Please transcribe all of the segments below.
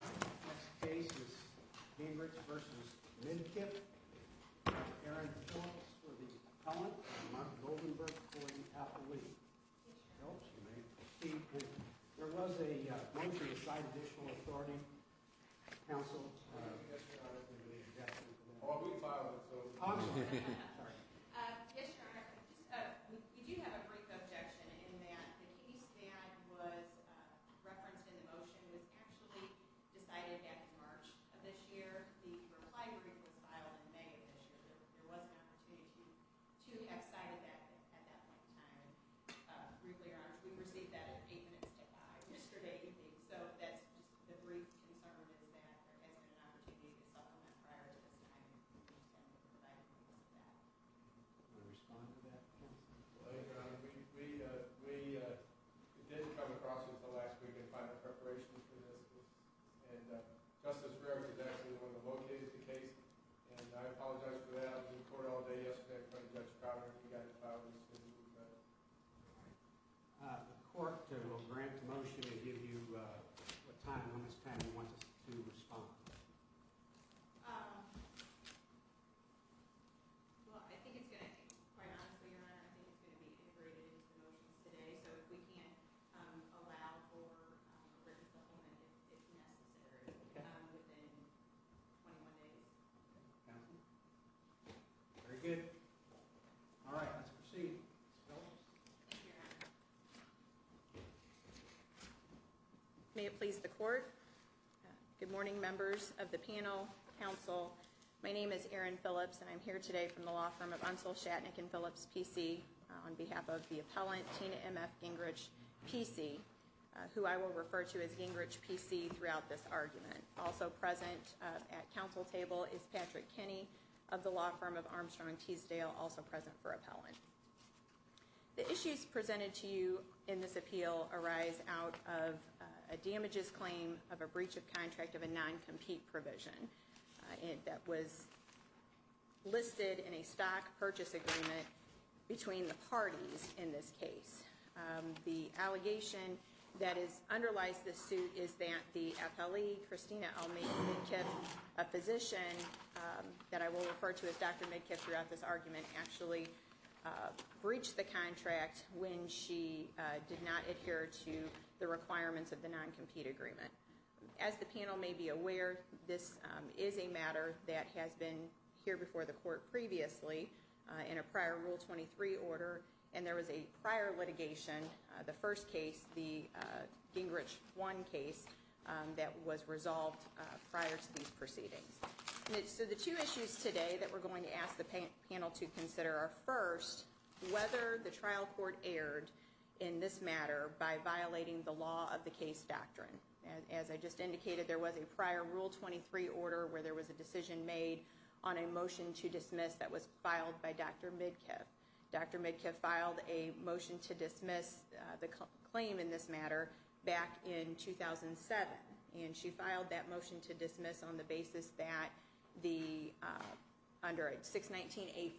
The next case is Gingrich v. Midkiff. Mr. Aaron Phillips for the Collins-Montgomery v. Appellee. There was a motion to sign additional authority, counsel. Yes, Your Honor. Yes, Your Honor. We do have a brief objection in that and the case that was referenced in the motion was actually decided back in March of this year. The reply brief was filed in May of this year. There was an opportunity to have cited that at that point in time. Briefly, Your Honor, we received that at 8 minutes to 5 yesterday evening. So that's just the brief concern is that there has been an opportunity to supplement prior to this time. And we understand that we're providing proof of that. Do you want to respond to that, counsel? Well, Your Honor, we didn't come across it until last week in final preparation for this. And Justice Reardon is actually one of the locators of the case. And I apologize for that. I was in court all day yesterday in front of Judge Crowder. He got it filed as soon as we got it. All right. The court will grant the motion to give you a time on this panel once to respond. Well, I think it's going to be quite honestly, Your Honor, I think it's going to be integrated into the motions today. So if we can't allow for a written supplement, if necessary, within 21 days. Counsel? Very good. All right. Let's proceed. Ms. Phillips? Thank you, Your Honor. May it please the court. Good morning, members of the panel, counsel. My name is Erin Phillips, and I'm here today from the law firm of Unsell, Shatnick & Phillips, P.C. on behalf of the appellant, Tina M.F. Gingrich, P.C., who I will refer to as Gingrich, P.C. throughout this argument. Also present at counsel table is Patrick Kenney of the law firm of Armstrong & Teasdale, also present for appellant. The issues presented to you in this appeal arise out of a damages claim of a breach of contract of a non-compete provision that was listed in a stock purchase agreement between the parties in this case. The allegation that underlies this suit is that the appellee, Christina Almeida Midkiff, a physician that I will refer to as Dr. Midkiff throughout this argument, actually breached the contract when she did not adhere to the requirements of the non-compete agreement. As the panel may be aware, this is a matter that has been here before the court previously in a prior Rule 23 order, and there was a prior litigation, the first case, the Gingrich 1 case, that was resolved prior to these proceedings. So the two issues today that we're going to ask the panel to consider are first, whether the trial court erred in this matter by violating the law of the case doctrine. As I just indicated, there was a prior Rule 23 order where there was a decision made on a motion to dismiss that was filed by Dr. Midkiff. Dr. Midkiff filed a motion to dismiss the claim in this matter back in 2007, and she filed that motion to dismiss on the basis that under 619A4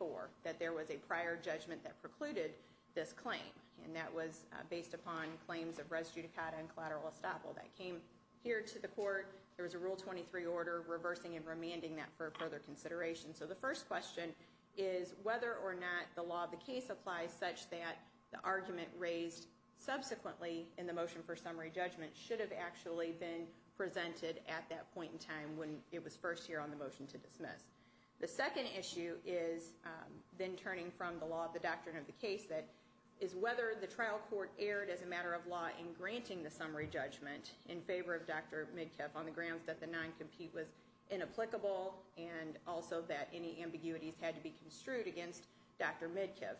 that there was a prior judgment that precluded this claim, and that was based upon claims of res judicata and collateral estoppel. That came here to the court. There was a Rule 23 order reversing and remanding that for further consideration. So the first question is whether or not the law of the case applies such that the argument raised subsequently in the motion for summary judgment should have actually been presented at that point in time when it was first here on the motion to dismiss. The second issue is, then turning from the law of the doctrine of the case, that is whether the trial court erred as a matter of law in granting the summary judgment in favor of Dr. Midkiff on the grounds that the non-compete was inapplicable and also that any ambiguities had to be construed against Dr. Midkiff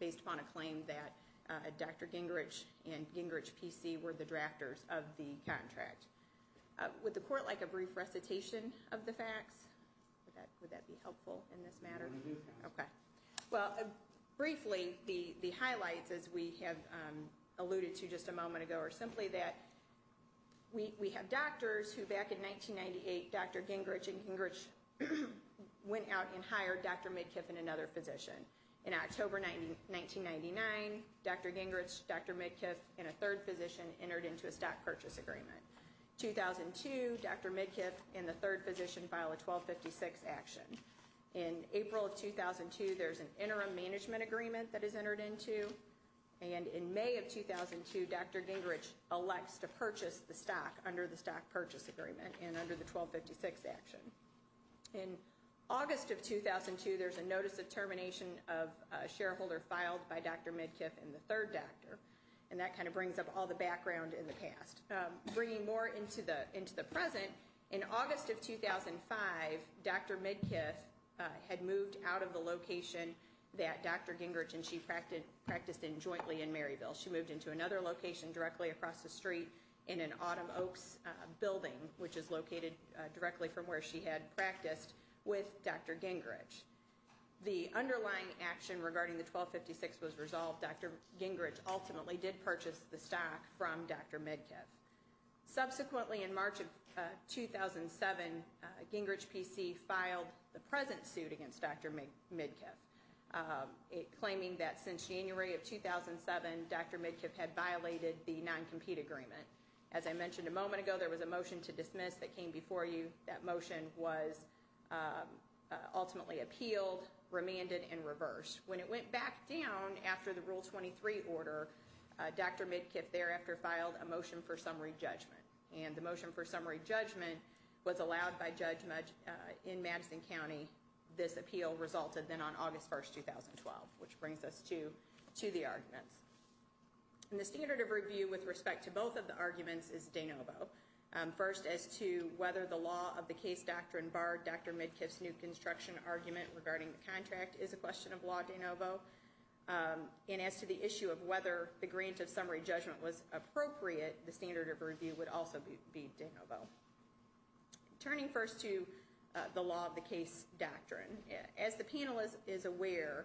based upon a claim that Dr. Gingrich and Gingrich PC were the drafters of the contract. Would the court like a brief recitation of the facts? Would that be helpful in this matter? Okay. Well, briefly, the highlights as we have alluded to just a moment ago are simply that we have doctors who back in 1998, Dr. Gingrich and Gingrich went out and hired Dr. Midkiff and another physician. In October 1999, Dr. Gingrich, Dr. Midkiff, and a third physician entered into a stock purchase agreement. 2002, Dr. Midkiff and the third physician filed a 1256 action. In April of 2002, there's an interim management agreement that is entered into, and in May of 2002, Dr. Gingrich elects to purchase the stock under the stock purchase agreement and under the 1256 action. In August of 2002, there's a notice of termination of a shareholder filed by Dr. Midkiff and the third doctor, and that kind of brings up all the background in the past. Bringing more into the present, in August of 2005, Dr. Midkiff had moved out of the location that Dr. Gingrich and she practiced in jointly in Maryville. She moved into another location directly across the street in an Autumn Oaks building, which is located directly from where she had practiced with Dr. Gingrich. The underlying action regarding the 1256 was resolved. Dr. Gingrich ultimately did purchase the stock from Dr. Midkiff. Subsequently, in March of 2007, Gingrich PC filed the present suit against Dr. Midkiff, claiming that since January of 2007, Dr. Midkiff had violated the non-compete agreement. As I mentioned a moment ago, there was a motion to dismiss that came before you. That motion was ultimately appealed, remanded, and reversed. When it went back down after the Rule 23 order, Dr. Midkiff thereafter filed a motion for summary judgment. And the motion for summary judgment was allowed by Judge in Madison County. This appeal resulted then on August 1st, 2012, which brings us to the arguments. And the standard of review with respect to both of the arguments is de novo. First, as to whether the law of the case doctrine barred Dr. Midkiff's new construction argument regarding the contract is a question of law de novo. And as to the issue of whether the grant of summary judgment was appropriate, the standard of review would also be de novo. Turning first to the law of the case doctrine, as the panel is aware,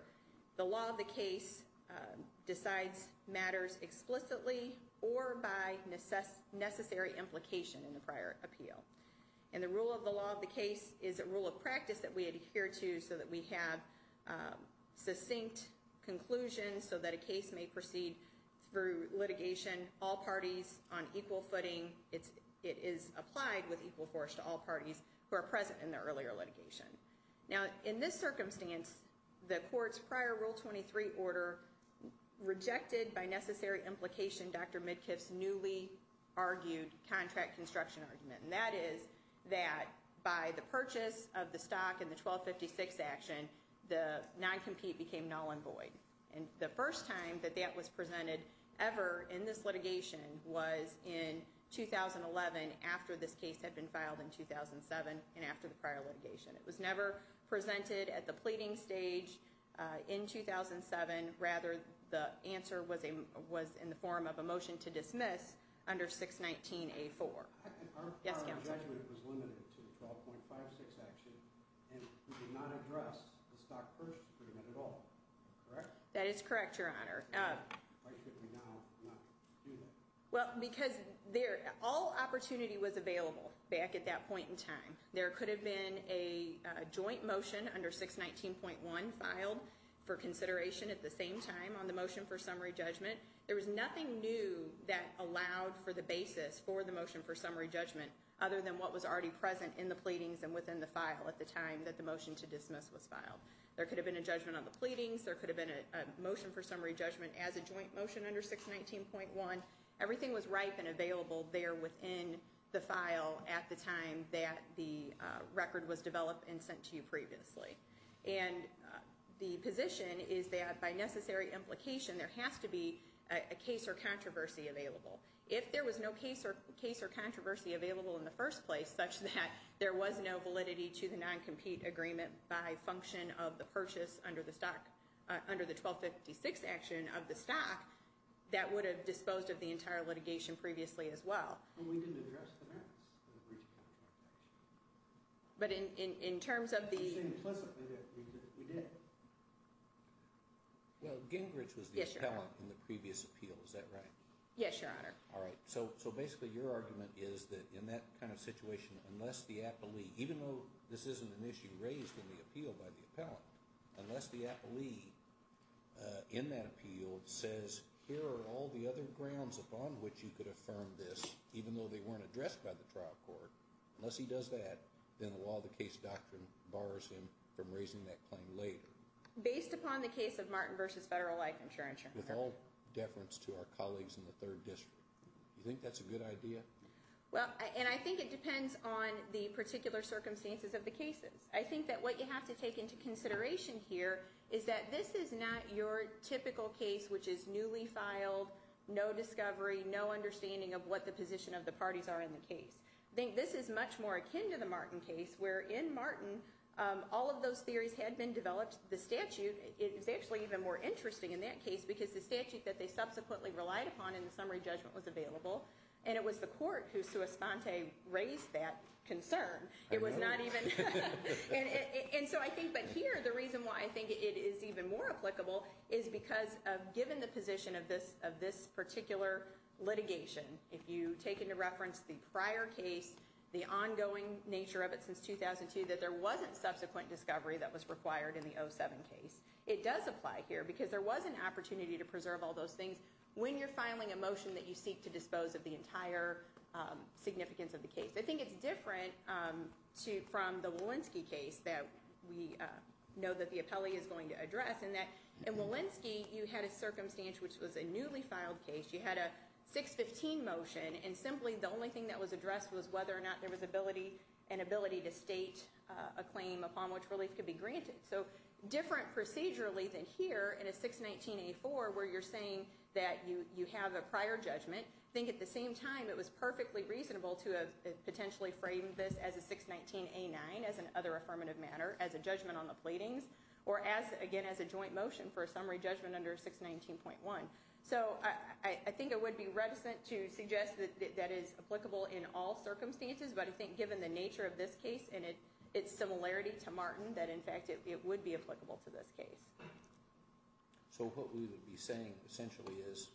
the law of the case decides matters explicitly or by necessary implication in the prior appeal. And the rule of the law of the case is a rule of practice that we adhere to so that we have succinct conclusions so that a case may proceed through litigation, all parties on equal footing. It is applied with equal force to all parties who are present in the earlier litigation. Now, in this circumstance, the court's prior Rule 23 order rejected by necessary implication Dr. Midkiff's newly argued contract construction argument. And that is that by the purchase of the stock in the 1256 action, the noncompete became null and void. And the first time that that was presented ever in this litigation was in 2011, after this case had been filed in 2007 and after the prior litigation. It was never presented at the pleading stage in 2007. Rather, the answer was in the form of a motion to dismiss under 619A4. Yes, Counselor. Our requirement was limited to the 12.56 action and we did not address the stock purchase agreement at all. Correct? That is correct, Your Honor. Why should we now not do that? Well, because all opportunity was available back at that point in time. There could have been a joint motion under 619.1 filed for consideration at the same time on the motion for summary judgment. There was nothing new that allowed for the basis for the motion for summary judgment other than what was already present in the pleadings and within the file at the time that the motion to dismiss was filed. There could have been a judgment on the pleadings. There could have been a motion for summary judgment as a joint motion under 619.1. Everything was ripe and available there within the file at the time that the record was developed and sent to you previously. And the position is that by necessary implication, there has to be a case or controversy available. If there was no case or controversy available in the first place such that there was no validity to the non-compete agreement by function of the purchase under the stock, under the 1256 action of the stock, that would have disposed of the entire litigation previously as well. And we didn't address the merits of the breach of contract action. But in terms of the... I'm just saying implicitly that we did. Well, Gingrich was the appellant in the previous appeal. Is that right? Yes, Your Honor. All right. So basically your argument is that in that kind of situation, unless the appellee, even though this isn't an issue raised in the appeal by the appellant, unless the appellee in that appeal says, here are all the other grounds upon which you could affirm this, even though they weren't addressed by the trial court, unless he does that, then the law of the case doctrine bars him from raising that claim later. Based upon the case of Martin v. Federal Life Insurance. With all deference to our colleagues in the third district. Do you think that's a good idea? Well, and I think it depends on the particular circumstances of the cases. I think that what you have to take into consideration here is that this is not your typical case, which is newly filed, no discovery, no understanding of what the position of the parties are in the case. I think this is much more akin to the Martin case, where in Martin all of those theories had been developed. The statute is actually even more interesting in that case, because the statute that they subsequently relied upon in the summary judgment was available, and it was the court who sui sponte raised that concern. It was not even. And so I think that here, the reason why I think it is even more applicable, is because given the position of this particular litigation, if you take into reference the prior case, the ongoing nature of it since 2002, that there wasn't subsequent discovery that was required in the 2007 case. It does apply here, because there was an opportunity to preserve all those things when you're filing a motion that you seek to dispose of the entire significance of the case. I think it's different from the Walensky case that we know that the appellee is going to address, in that in Walensky you had a circumstance which was a newly filed case. You had a 615 motion, and simply the only thing that was addressed was whether or not there was an ability to state a claim upon which relief could be granted. So different procedurally than here in a 619A4 where you're saying that you have a prior judgment, I think at the same time it was perfectly reasonable to have potentially framed this as a 619A9, as an other affirmative matter, as a judgment on the pleadings, or again as a joint motion for a summary judgment under 619.1. So I think it would be reticent to suggest that that is applicable in all circumstances, but I think given the nature of this case and its similarity to Martin, that in fact it would be applicable to this case. So what we would be saying essentially is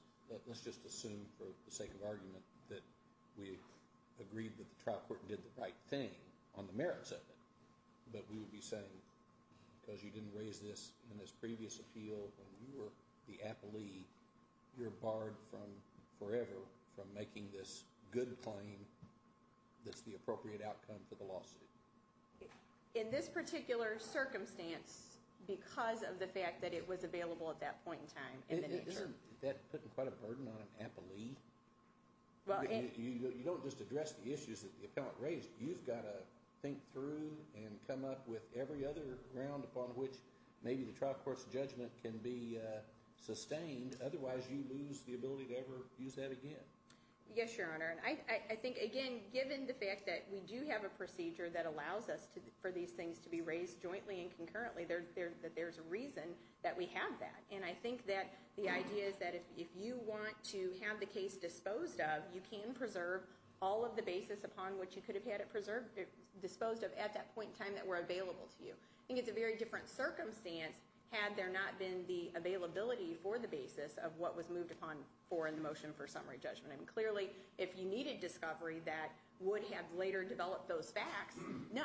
let's just assume for the sake of argument that we agreed that the trial court did the right thing on the merits of it, but we would be saying because you didn't raise this in this previous appeal when you were the appellee, you're barred forever from making this good claim that's the appropriate outcome for the lawsuit. In this particular circumstance because of the fact that it was available at that point in time in the nature. Isn't that putting quite a burden on an appellee? You don't just address the issues that the appellant raised. You've got to think through and come up with every other ground upon which maybe the trial court's judgment can be sustained. Otherwise you lose the ability to ever use that again. Yes, Your Honor. I think, again, given the fact that we do have a procedure that allows us for these things to be raised jointly and concurrently, that there's a reason that we have that. And I think that the idea is that if you want to have the case disposed of, you can preserve all of the basis upon which you could have had it disposed of at that point in time that were available to you. I think it's a very different circumstance had there not been the availability for the basis of what was moved upon for in the motion for summary judgment. Clearly, if you needed discovery that would have later developed those facts, no,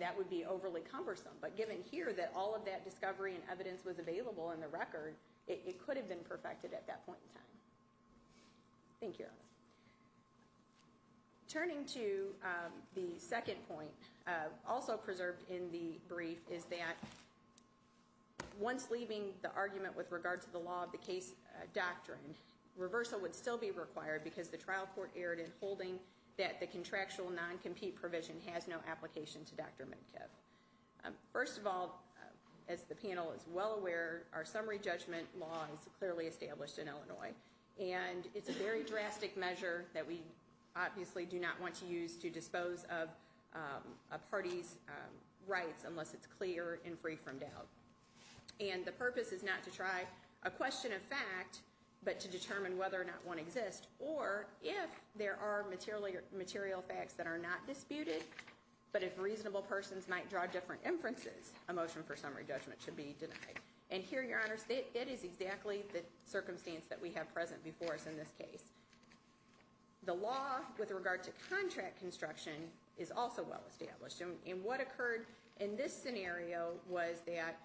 that would be overly cumbersome. But given here that all of that discovery and evidence was available in the record, it could have been perfected at that point in time. Thank you, Your Honor. Turning to the second point, also preserved in the brief, is that once leaving the argument with regard to the law of the case doctrine, reversal would still be required because the trial court erred in holding that the contractual non-compete provision has no application to Dr. Medkiff. First of all, as the panel is well aware, our summary judgment law is clearly established in Illinois. And it's a very drastic measure that we obviously do not want to use to dispose of a party's rights unless it's clear and free from doubt. And the purpose is not to try a question of fact, but to determine whether or not one exists, or if there are material facts that are not disputed, but if reasonable persons might draw different inferences, a motion for summary judgment should be denied. And here, Your Honors, that is exactly the circumstance that we have present before us in this case. The law with regard to contract construction is also well established. And what occurred in this scenario was that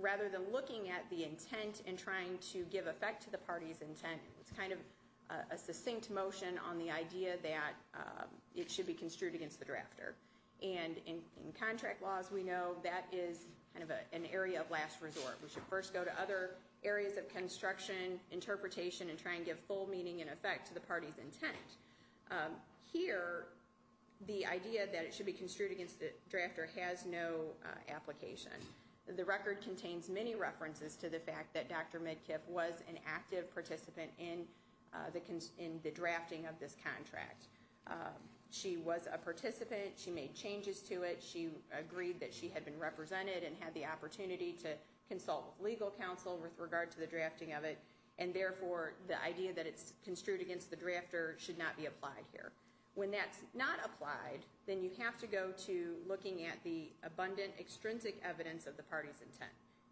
rather than looking at the intent and trying to give effect to the party's intent, it's kind of a succinct motion on the idea that it should be construed against the drafter. And in contract laws, we know that is kind of an area of last resort. We should first go to other areas of construction, interpretation, and try and give full meaning and effect to the party's intent. Here, the idea that it should be construed against the drafter has no application. The record contains many references to the fact that Dr. Medkiff was an active participant in the drafting of this contract. She was a participant. She made changes to it. She agreed that she had been represented and had the opportunity to consult with legal counsel with regard to the drafting of it. And therefore, the idea that it's construed against the drafter should not be applied here. When that's not applied, then you have to go to looking at the abundant, extrinsic evidence of the party's intent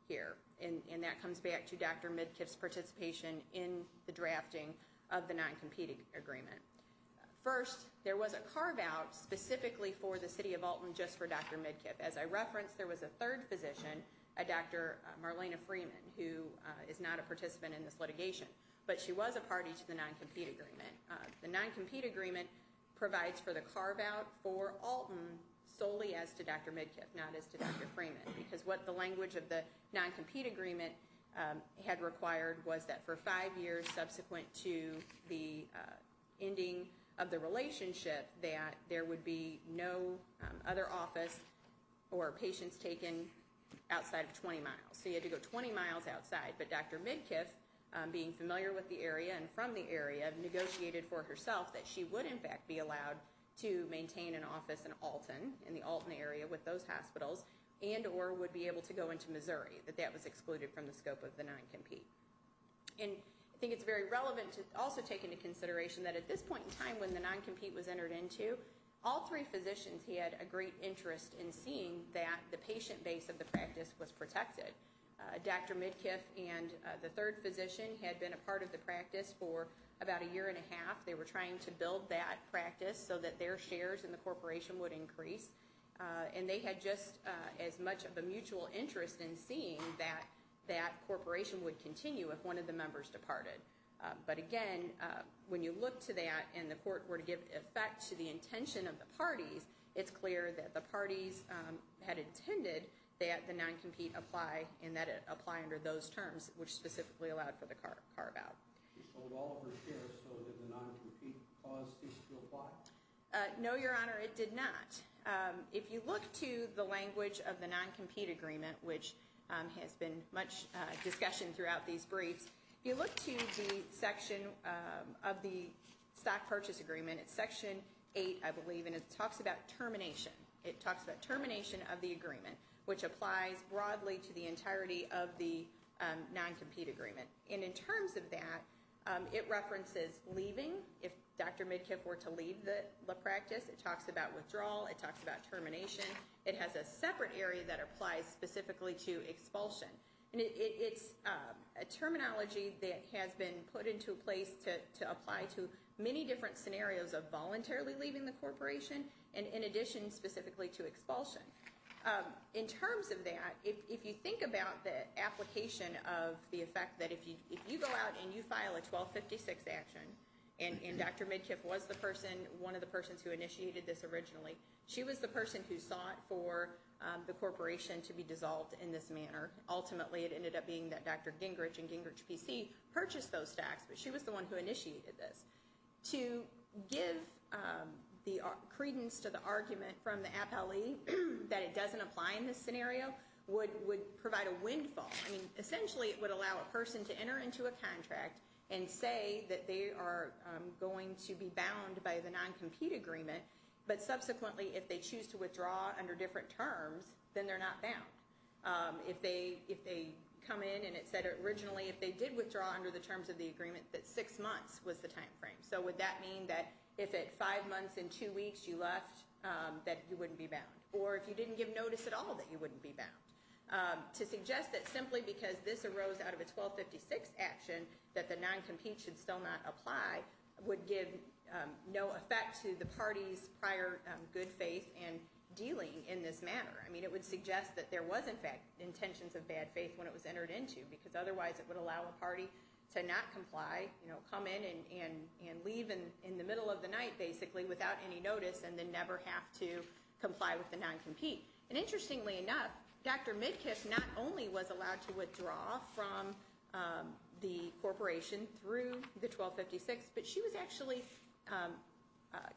here. And that comes back to Dr. Medkiff's participation in the drafting of the non-competing agreement. First, there was a carve-out specifically for the city of Alton just for Dr. Medkiff. As I referenced, there was a third physician, Dr. Marlena Freeman, who is not a participant in this litigation, but she was a party to the non-compete agreement. The non-compete agreement provides for the carve-out for Alton solely as to Dr. Medkiff, not as to Dr. Freeman, because what the language of the non-compete agreement had required was that for five years subsequent to the ending of the relationship, that there would be no other office or patients taken outside of 20 miles. So you had to go 20 miles outside. But Dr. Medkiff, being familiar with the area and from the area, negotiated for herself that she would, in fact, be allowed to maintain an office in Alton, in the Alton area with those hospitals, and or would be able to go into Missouri. But that was excluded from the scope of the non-compete. And I think it's very relevant to also take into consideration that at this point in time when the non-compete was entered into, all three physicians had a great interest in seeing that the patient base of the practice was protected. Dr. Medkiff and the third physician had been a part of the practice for about a year and a half. They were trying to build that practice so that their shares in the corporation would increase. And they had just as much of a mutual interest in seeing that that corporation would continue if one of the members departed. But again, when you look to that and the court were to give effect to the intention of the parties, it's clear that the parties had intended that the non-compete apply and that it apply under those terms, which specifically allowed for the carve-out. She sold all of her shares, so did the non-compete clause cease to apply? No, Your Honor, it did not. If you look to the language of the non-compete agreement, which has been much discussion throughout these briefs, if you look to the section of the stock purchase agreement, it's section 8, I believe, and it talks about termination. It talks about termination of the agreement, which applies broadly to the entirety of the non-compete agreement. And in terms of that, it references leaving. If Dr. Midkiff were to leave the practice, it talks about withdrawal. It talks about termination. It has a separate area that applies specifically to expulsion. And it's a terminology that has been put into place to apply to many different scenarios of voluntarily leaving the corporation and in addition specifically to expulsion. In terms of that, if you think about the application of the effect that if you go out and you file a 1256 action, and Dr. Midkiff was the person, one of the persons who initiated this originally, she was the person who sought for the corporation to be dissolved in this manner. Ultimately, it ended up being that Dr. Gingrich and Gingrich PC purchased those stocks, but she was the one who initiated this. To give credence to the argument from the appellee that it doesn't apply in this scenario would provide a windfall. Essentially, it would allow a person to enter into a contract and say that they are going to be bound by the non-compete agreement, but subsequently if they choose to withdraw under different terms, then they're not bound. If they come in and it said originally if they did withdraw under the terms of the agreement that six months was the time frame. Would that mean that if at five months and two weeks you left that you wouldn't be bound? Or if you didn't give notice at all that you wouldn't be bound? To suggest that simply because this arose out of a 1256 action that the non-compete should still not apply would give no effect to the party's prior good faith and dealing in this manner. It would suggest that there was in fact intentions of bad faith when it was entered into because otherwise it would allow a party to not comply, come in and leave in the middle of the night basically without any notice and then never have to comply with the non-compete. Interestingly enough, Dr. Midkiff not only was allowed to withdraw from the corporation through the 1256, but she was actually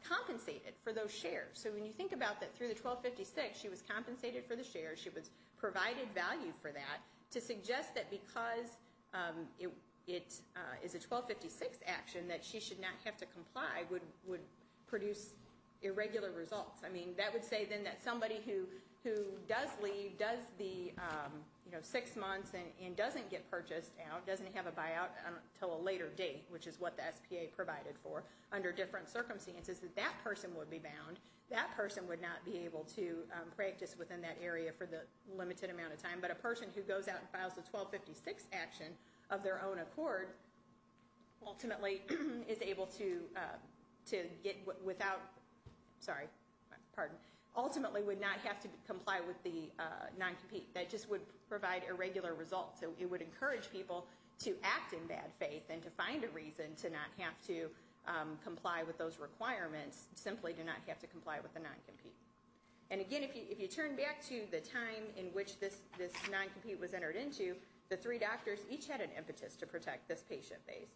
compensated for those shares. So when you think about that through the 1256 she was compensated for the shares, she was provided value for that to suggest that because it is a 1256 action that she should not have to comply would produce irregular results. I mean that would say then that somebody who does leave, does the six months and doesn't get purchased out, doesn't have a buyout until a later date, which is what the SPA provided for under different circumstances, that that person would be bound. That person would not be able to practice within that area for the limited amount of time. But a person who goes out and files a 1256 action of their own accord ultimately is able to get without, sorry, pardon, ultimately would not have to comply with the non-compete. That just would provide irregular results. So it would encourage people to act in bad faith and to find a reason to not have to comply with those requirements, simply to not have to comply with the non-compete. And again, if you turn back to the time in which this non-compete was entered into, the three doctors each had an impetus to protect this patient base.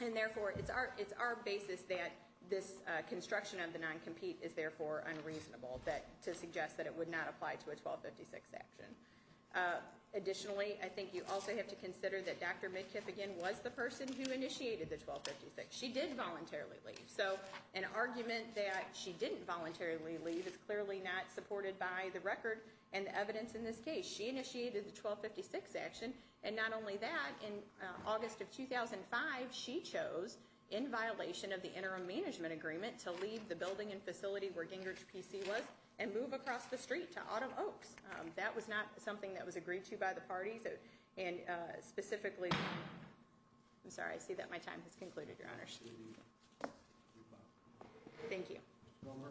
And therefore, it's our basis that this construction of the non-compete is therefore unreasonable to suggest that it would not apply to a 1256 action. Additionally, I think you also have to consider that Dr. Midkiff, again, was the person who initiated the 1256. She did voluntarily leave. So an argument that she didn't voluntarily leave is clearly not supported by the record and the evidence in this case. She initiated the 1256 action. And not only that, in August of 2005, she chose, in violation of the interim management agreement, to leave the building and facility where Gingrich PC was and move across the street to Autumn Oaks. That was not something that was agreed to by the parties. And specifically, I'm sorry, I see that my time has concluded, Your Honor. Thank you. One more.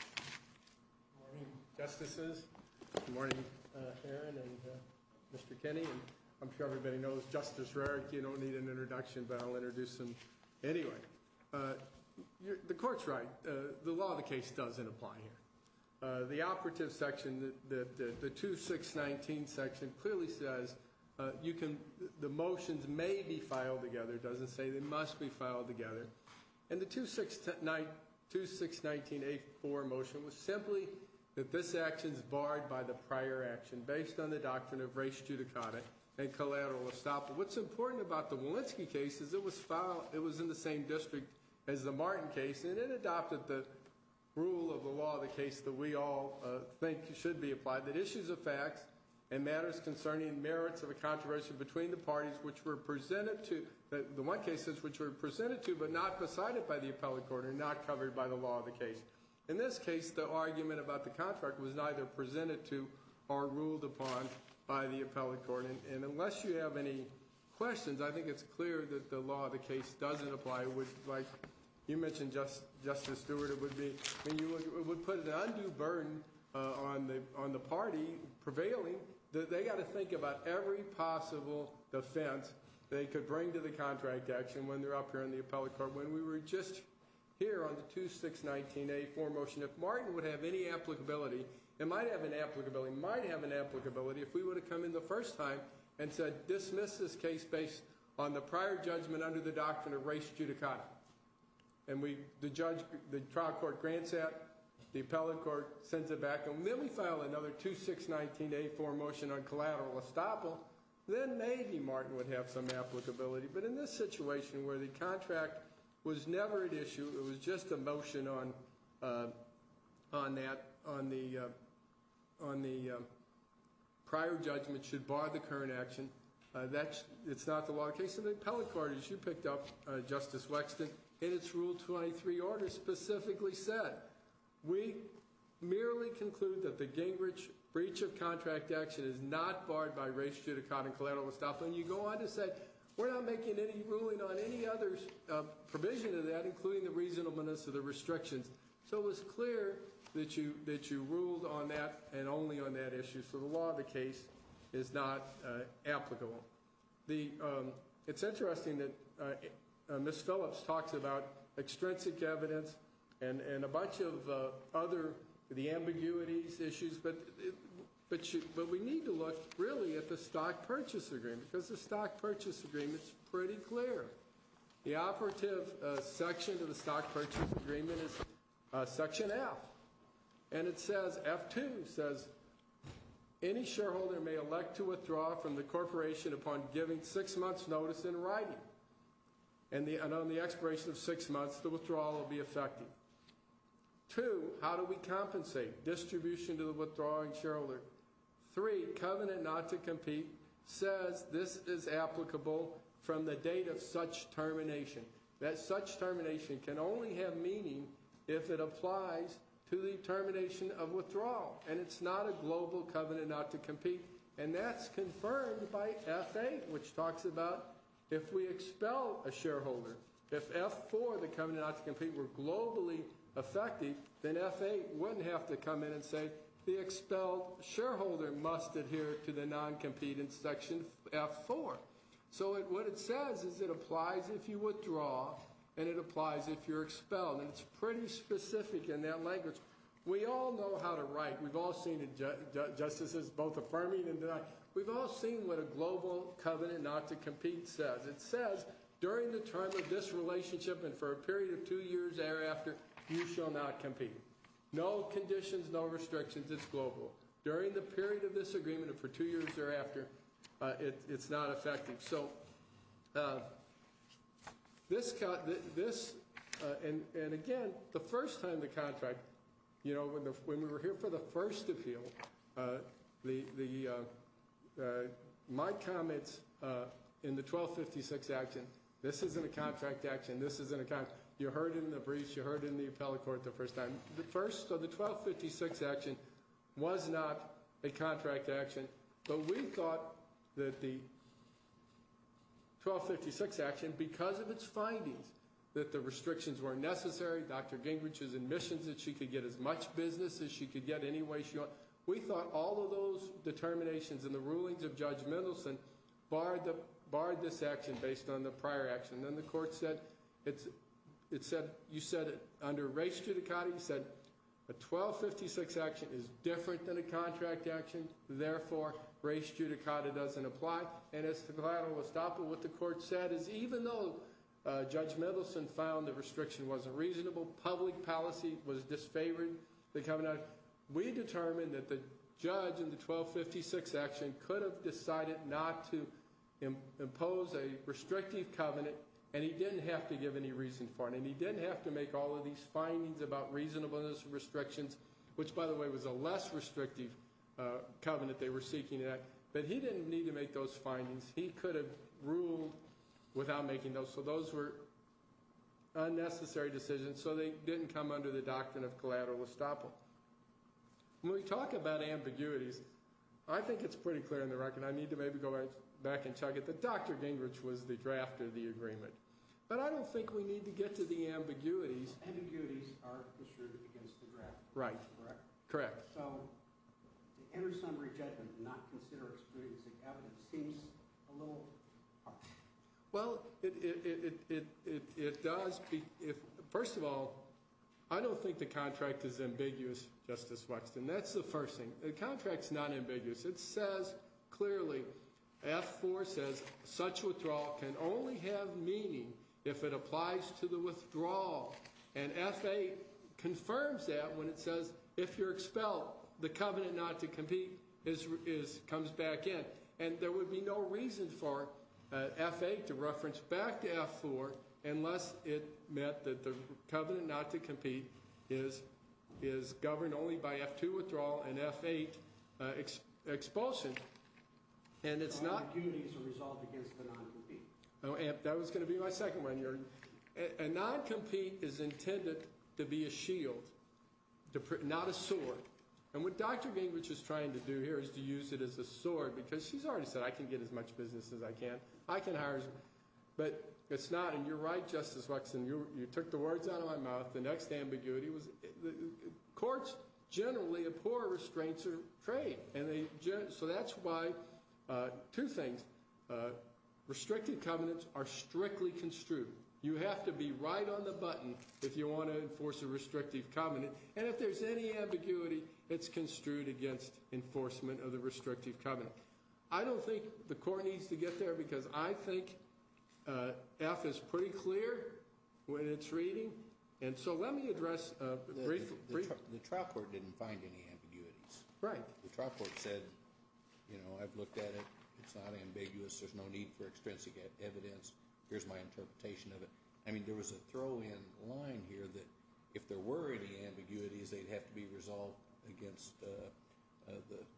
Good morning, Justices. Good morning, Aaron and Mr. Kenney. I'm sure everybody knows Justice Rarick. You don't need an introduction, but I'll introduce him. Anyway, the Court's right. The law of the case doesn't apply here. The operative section, the 2619 section, clearly says the motions may be filed together. It doesn't say they must be filed together. And the 2619A4 motion was simply that this action is barred by the prior action, based on the doctrine of res judicata and collateral estoppel. What's important about the Walensky case is it was in the same district as the Martin case, and it adopted the rule of the law of the case that we all think should be applied, that issues of facts and matters concerning merits of a controversy between the parties which were presented to, the one cases which were presented to but not decided by the appellate court and not covered by the law of the case. In this case, the argument about the contract was neither presented to or ruled upon by the appellate court. And unless you have any questions, I think it's clear that the law of the case doesn't apply. Like you mentioned, Justice Stewart, it would put an undue burden on the party prevailing. They've got to think about every possible offense they could bring to the contract action when they're up here in the appellate court. When we were just here on the 2619A4 motion, if Martin would have any applicability, it might have an applicability, might have an applicability if we would have come in the first time and said dismiss this case based on the prior judgment under the doctrine of res judicata. And the trial court grants that, the appellate court sends it back, and then we file another 2619A4 motion on collateral estoppel, then maybe Martin would have some applicability. But in this situation where the contract was never at issue, it was just a motion on that, on the prior judgment should bar the current action, it's not the law of the case. And the appellate court, as you picked up, Justice Wexton, in its Rule 23 order specifically said, we merely conclude that the Gingrich breach of contract action is not barred by res judicata and collateral estoppel. And you go on to say, we're not making any ruling on any other provision of that, including the reasonableness of the restrictions. So it was clear that you ruled on that and only on that issue. So the law of the case is not applicable. It's interesting that Ms. Phillips talks about extrinsic evidence and a bunch of other, the ambiguities, issues, but we need to look, really, at the stock purchase agreement, because the stock purchase agreement's pretty clear. The operative section of the stock purchase agreement is section F. And it says, F2 says, any shareholder may elect to withdraw from the corporation upon giving six months' notice in writing. And on the expiration of six months, the withdrawal will be effective. Two, how do we compensate? Distribution to the withdrawing shareholder. Three, covenant not to compete says this is applicable from the date of such termination. That such termination can only have meaning if it applies to the termination of withdrawal. And it's not a global covenant not to compete. And that's confirmed by F8, which talks about if we expel a shareholder, if F4, the covenant not to compete, were globally effective, then F8 wouldn't have to come in and say, the expelled shareholder must adhere to the non-competing section F4. So what it says is it applies if you withdraw, and it applies if you're expelled. And it's pretty specific in that language. We all know how to write. We've all seen it. Justice is both affirming and denying. We've all seen what a global covenant not to compete says. It says during the term of this relationship and for a period of two years thereafter, you shall not compete. No conditions, no restrictions. It's global. During the period of this agreement and for two years thereafter, it's not effective. So this, and again, the first time the contract, when we were here for the first appeal, my comments in the 1256 action, this isn't a contract action. This isn't a contract. You heard it in the briefs. You heard it in the appellate court the first time. The first of the 1256 action was not a contract action. But we thought that the 1256 action, because of its findings that the restrictions were necessary, Dr. Gingrich's admissions that she could get as much business as she could get any way she wanted, we thought all of those determinations in the rulings of Judge Mendelson barred this action based on the prior action. And then the court said, you said under race judicata, you said a 1256 action is different than a contract action. Therefore, race judicata doesn't apply. And as to collateral estoppel, what the court said is even though Judge Mendelson found the restriction wasn't reasonable, public policy was disfavoring the covenant, we determined that the judge in the 1256 action could have decided not to impose a restrictive covenant and he didn't have to give any reason for it. And he didn't have to make all of these findings about reasonableness and restrictions, which by the way was a less restrictive covenant they were seeking. But he didn't need to make those findings. He could have ruled without making those. So those were unnecessary decisions. So they didn't come under the doctrine of collateral estoppel. When we talk about ambiguities, I think it's pretty clear on the record, I need to maybe go back and chug it, that Dr. Gingrich was the draft of the agreement. But I don't think we need to get to the ambiguities. Ambiguities are construed against the draft. Right. Correct. Correct. So the inter-summary judgment to not consider excluding sick evidence seems a little harsh. Well, it does. First of all, I don't think the contract is ambiguous, Justice Wexton. That's the first thing. The contract's not ambiguous. It says clearly, F-4 says such withdrawal can only have meaning if it applies to the withdrawal. And F-8 confirms that when it says if you're expelled, the covenant not to compete comes back in. And there would be no reason for F-8 to reference back to F-4 unless it meant that the covenant not to compete is governed only by F-2 withdrawal and F-8 expulsion. Ambiguities are resolved against the non-compete. That was going to be my second one. A non-compete is intended to be a shield, not a sword. And what Dr. Gingrich is trying to do here is to use it as a sword because she's already said I can get as much business as I can. I can hire as many. But it's not. And you're right, Justice Wexton. You took the words out of my mouth. The next ambiguity was courts generally abhor restraints of trade. So that's why two things. Restricted covenants are strictly construed. You have to be right on the button if you want to enforce a restrictive covenant. And if there's any ambiguity, it's construed against enforcement of the restrictive covenant. I don't think the court needs to get there because I think F is pretty clear when it's reading. And so let me address a brief – The trial court didn't find any ambiguities. Right. The trial court said, you know, I've looked at it. It's not ambiguous. There's no need for extrinsic evidence. Here's my interpretation of it. I mean, there was a throw-in line here that if there were any ambiguities, they'd have to be resolved against the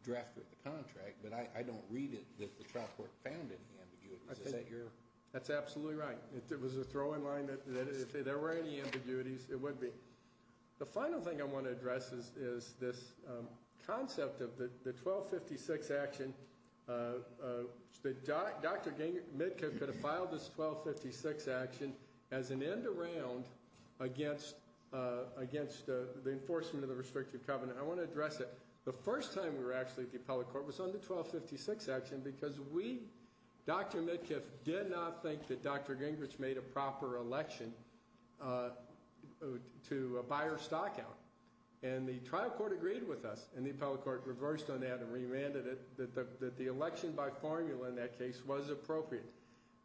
drafter of the contract. But I don't read it that the trial court found any ambiguities. That's absolutely right. It was a throw-in line that if there were any ambiguities, it would be. The final thing I want to address is this concept of the 1256 action. Dr. Mitkoff could have filed this 1256 action as an end-around against the enforcement of the restrictive covenant. I want to address it. The first time we were actually at the appellate court was on the 1256 action because we, Dr. Mitkoff, did not think that Dr. Gingrich made a proper election to buy her stock out. And the trial court agreed with us. And the appellate court reversed on that and remanded it that the election by formula in that case was appropriate.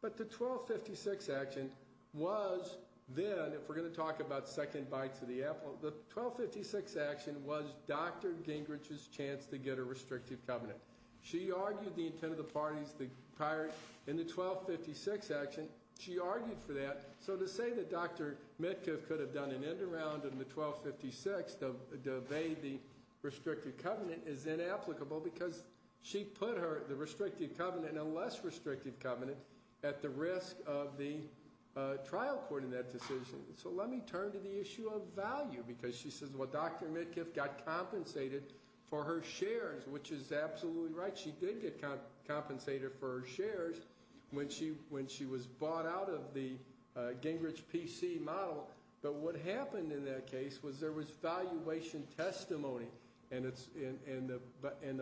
But the 1256 action was then, if we're going to talk about second bites of the apple, the 1256 action was Dr. Gingrich's chance to get a restrictive covenant. She argued the intent of the parties prior in the 1256 action. She argued for that. So to say that Dr. Mitkoff could have done an end-around in the 1256 to obey the restrictive covenant is inapplicable because she put the restrictive covenant and a less restrictive covenant at the risk of the trial court in that decision. So let me turn to the issue of value because she says, well, Dr. Mitkoff got compensated for her shares, which is absolutely right. She did get compensated for her shares when she was bought out of the Gingrich PC model. But what happened in that case was there was valuation testimony. And the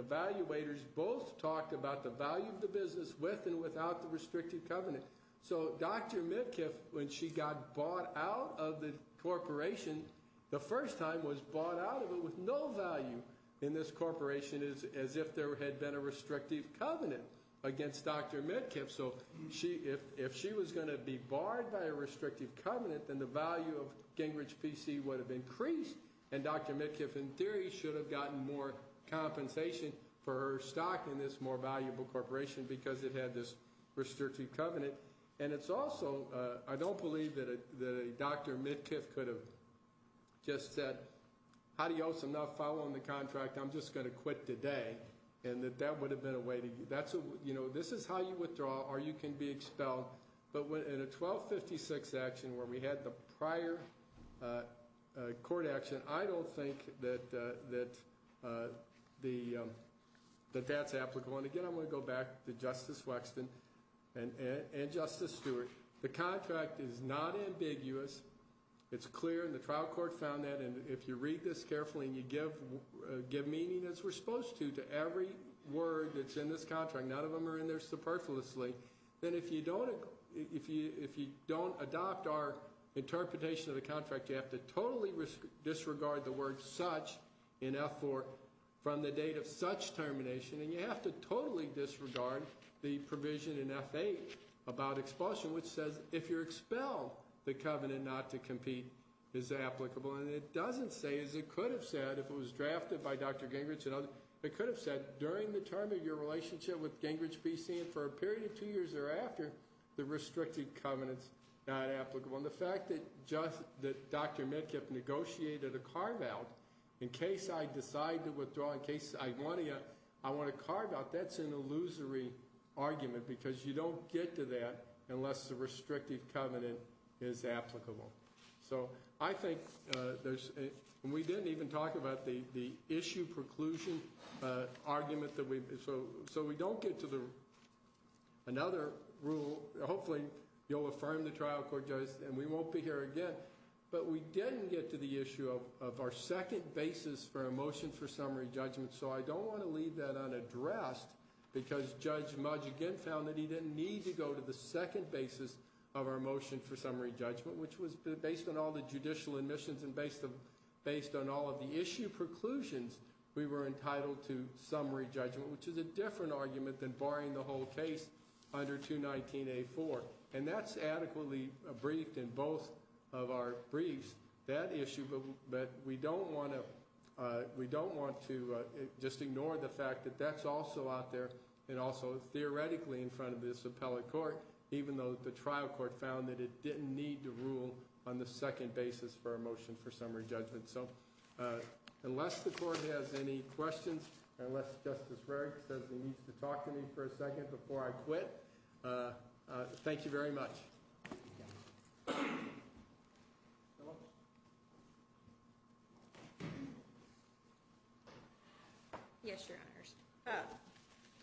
valuators both talked about the value of the business with and without the restrictive covenant. So Dr. Mitkoff, when she got bought out of the corporation, the first time was bought out of it with no value in this corporation as if there had been a restrictive covenant against Dr. Mitkoff. So if she was going to be barred by a restrictive covenant, then the value of Gingrich PC would have increased. And Dr. Mitkoff, in theory, should have gotten more compensation for her stock in this more valuable corporation because it had this restrictive covenant. And it's also, I don't believe that a Dr. Mitkoff could have just said, adios, I'm not following the contract, I'm just going to quit today. And that that would have been a way to, this is how you withdraw or you can be expelled. But in a 1256 action where we had the prior court action, I don't think that that's applicable. And again, I'm going to go back to Justice Wexton and Justice Stewart. The contract is not ambiguous. It's clear, and the trial court found that. And if you read this carefully and you give meaning as we're supposed to to every word that's in this contract, none of them are in there superfluously, then if you don't adopt our interpretation of the contract, you have to totally disregard the word such in F4 from the date of such termination. And you have to totally disregard the provision in F8 about expulsion, which says if you're expelled, the covenant not to compete is applicable. And it doesn't say, as it could have said, if it was drafted by Dr. Gingrich and others, it could have said during the term of your relationship with Gingrich BC and for a period of two years thereafter, the restricted covenant's not applicable. And the fact that Dr. Metcalf negotiated a carve out in case I decide to withdraw, in case I want to carve out, that's an illusory argument because you don't get to that unless the restricted covenant is applicable. So I think there's, and we didn't even talk about the issue preclusion argument, so we don't get to another rule. Hopefully, you'll affirm the trial court judge and we won't be here again. But we didn't get to the issue of our second basis for a motion for summary judgment. So I don't want to leave that unaddressed because Judge Mudge again found that he didn't need to go to the second basis of our motion for summary judgment, which was based on all the judicial admissions and based on all of the issue preclusions, we were entitled to summary judgment, which is a different argument than barring the whole case under 219A4. And that's adequately briefed in both of our briefs, that issue. But we don't want to just ignore the fact that that's also out there and also theoretically in front of this appellate court, even though the trial court found that it didn't need to rule on the second basis for a motion for summary judgment. So unless the court has any questions, unless Justice Rarick says he needs to talk to me for a second before I quit, thank you very much. Yes, Your Honors.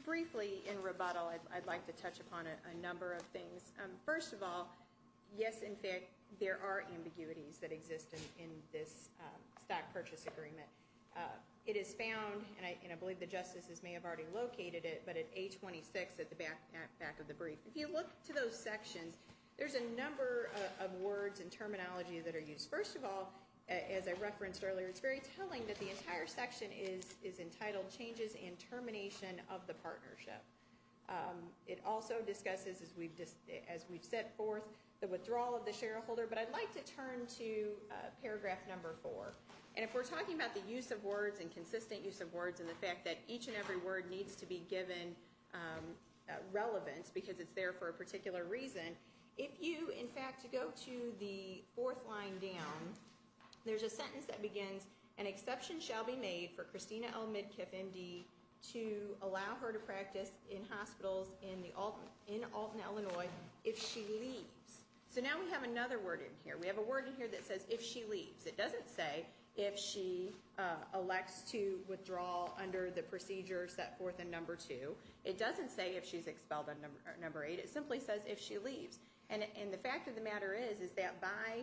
Briefly, in rebuttal, I'd like to touch upon a number of things. First of all, yes, in fact, there are ambiguities that exist in this stock purchase agreement. It is found, and I believe the justices may have already located it, but at 826 at the back of the brief. If you look to those sections, there's a number of words and terminology that are used. First of all, as I referenced earlier, it's very telling that the entire section is entitled Changes and Termination of the Partnership. It also discusses, as we've set forth, the withdrawal of the shareholder. But I'd like to turn to paragraph number four. And if we're talking about the use of words and consistent use of words and the fact that each and every word needs to be given relevance because it's there for a particular reason, if you, in fact, go to the fourth line down, there's a sentence that begins, an exception shall be made for Christina L. Midkiff, M.D., to allow her to practice in hospitals in Alton, Illinois, if she leaves. So now we have another word in here. We have a word in here that says if she leaves. It doesn't say if she elects to withdraw under the procedure set forth in number two. It doesn't say if she's expelled on number eight. It simply says if she leaves. And the fact of the matter is is that by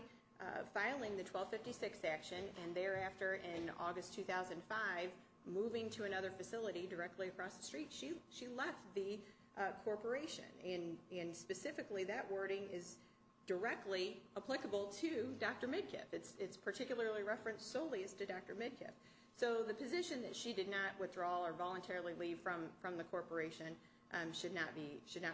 filing the 1256 action and thereafter in August 2005, moving to another facility directly across the street, she left the corporation. And specifically, that wording is directly applicable to Dr. Midkiff. It's particularly referenced solely as to Dr. Midkiff. So the position that she did not withdraw or voluntarily leave from the corporation should not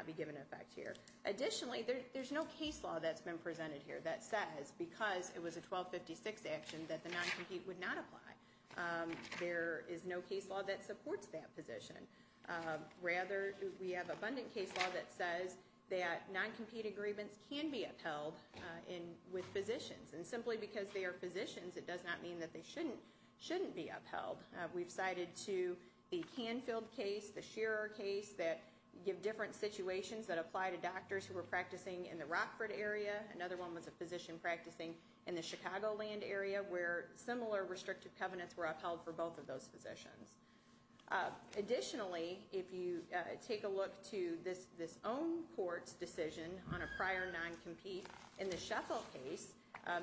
be given effect here. Additionally, there's no case law that's been presented here that says because it was a 1256 action that the non-compete would not apply. There is no case law that supports that position. Rather, we have abundant case law that says that non-compete agreements can be upheld with physicians. And simply because they are physicians, it does not mean that they shouldn't be upheld. We've cited to the Canfield case, the Shearer case that give different situations that apply to doctors who were practicing in the Rockford area. Another one was a physician practicing in the Chicagoland area where similar restrictive covenants were upheld for both of those physicians. Additionally, if you take a look to this own court's decision on a prior non-compete in the Shuffle case,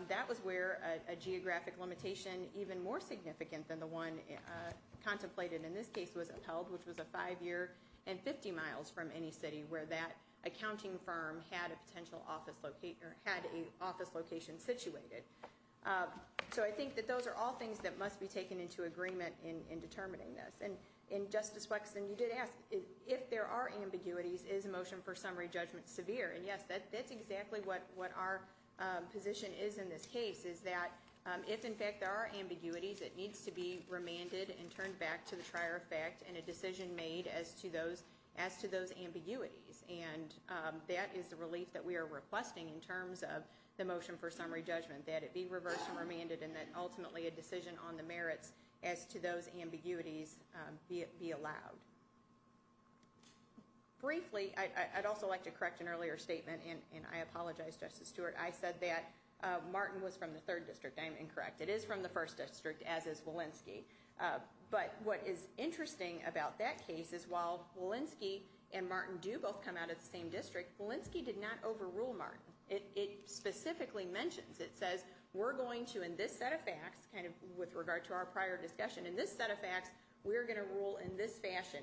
that was where a geographic limitation even more significant than the one contemplated in this case was upheld, which was a five-year and 50 miles from any city where that accounting firm had a potential office location or had an office location situated. So I think that those are all things that must be taken into agreement in determining this. And Justice Wexton, you did ask if there are ambiguities, is a motion for summary judgment severe? And yes, that's exactly what our position is in this case, is that if in fact there are ambiguities, it needs to be remanded and turned back to the trier effect and a decision made as to those ambiguities. And that is the relief that we are requesting in terms of the motion for summary judgment, that it be reversed and remanded and that ultimately a decision on the merits as to those ambiguities be allowed. Briefly, I'd also like to correct an earlier statement, and I apologize, Justice Stewart. I said that Martin was from the third district. I am incorrect. It is from the first district, as is Walensky. But what is interesting about that case is while Walensky and Martin do both come out of the same district, Walensky did not overrule Martin. It specifically mentions, it says, we're going to in this set of facts, kind of with regard to our prior discussion, in this set of facts, we're going to rule in this fashion.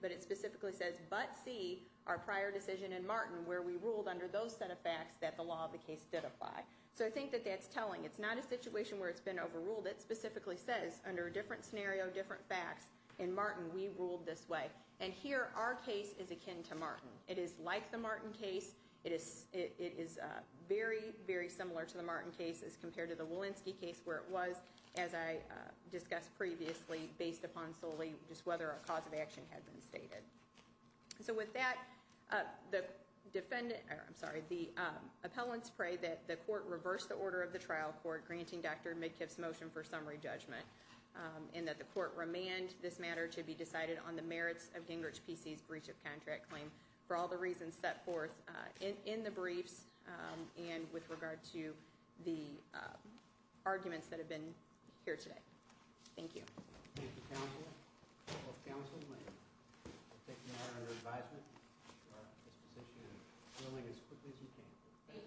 But it specifically says, but see our prior decision in Martin where we ruled under those set of facts that the law of the case did apply. So I think that that's telling. It's not a situation where it's been overruled. It specifically says under a different scenario, different facts, in Martin we ruled this way. And here our case is akin to Martin. It is like the Martin case. It is very, very similar to the Martin case as compared to the Walensky case where it was, as I discussed previously, based upon solely just whether a cause of action had been stated. So with that, the defendant, I'm sorry, the appellants pray that the court reverse the order of the trial court granting Dr. Midkiff's motion for summary judgment and that the court remand this matter to be decided on the merits of Gingrich PC's breach of contract claim for all the reasons set forth in the briefs and with regard to the arguments that have been here today. Thank you.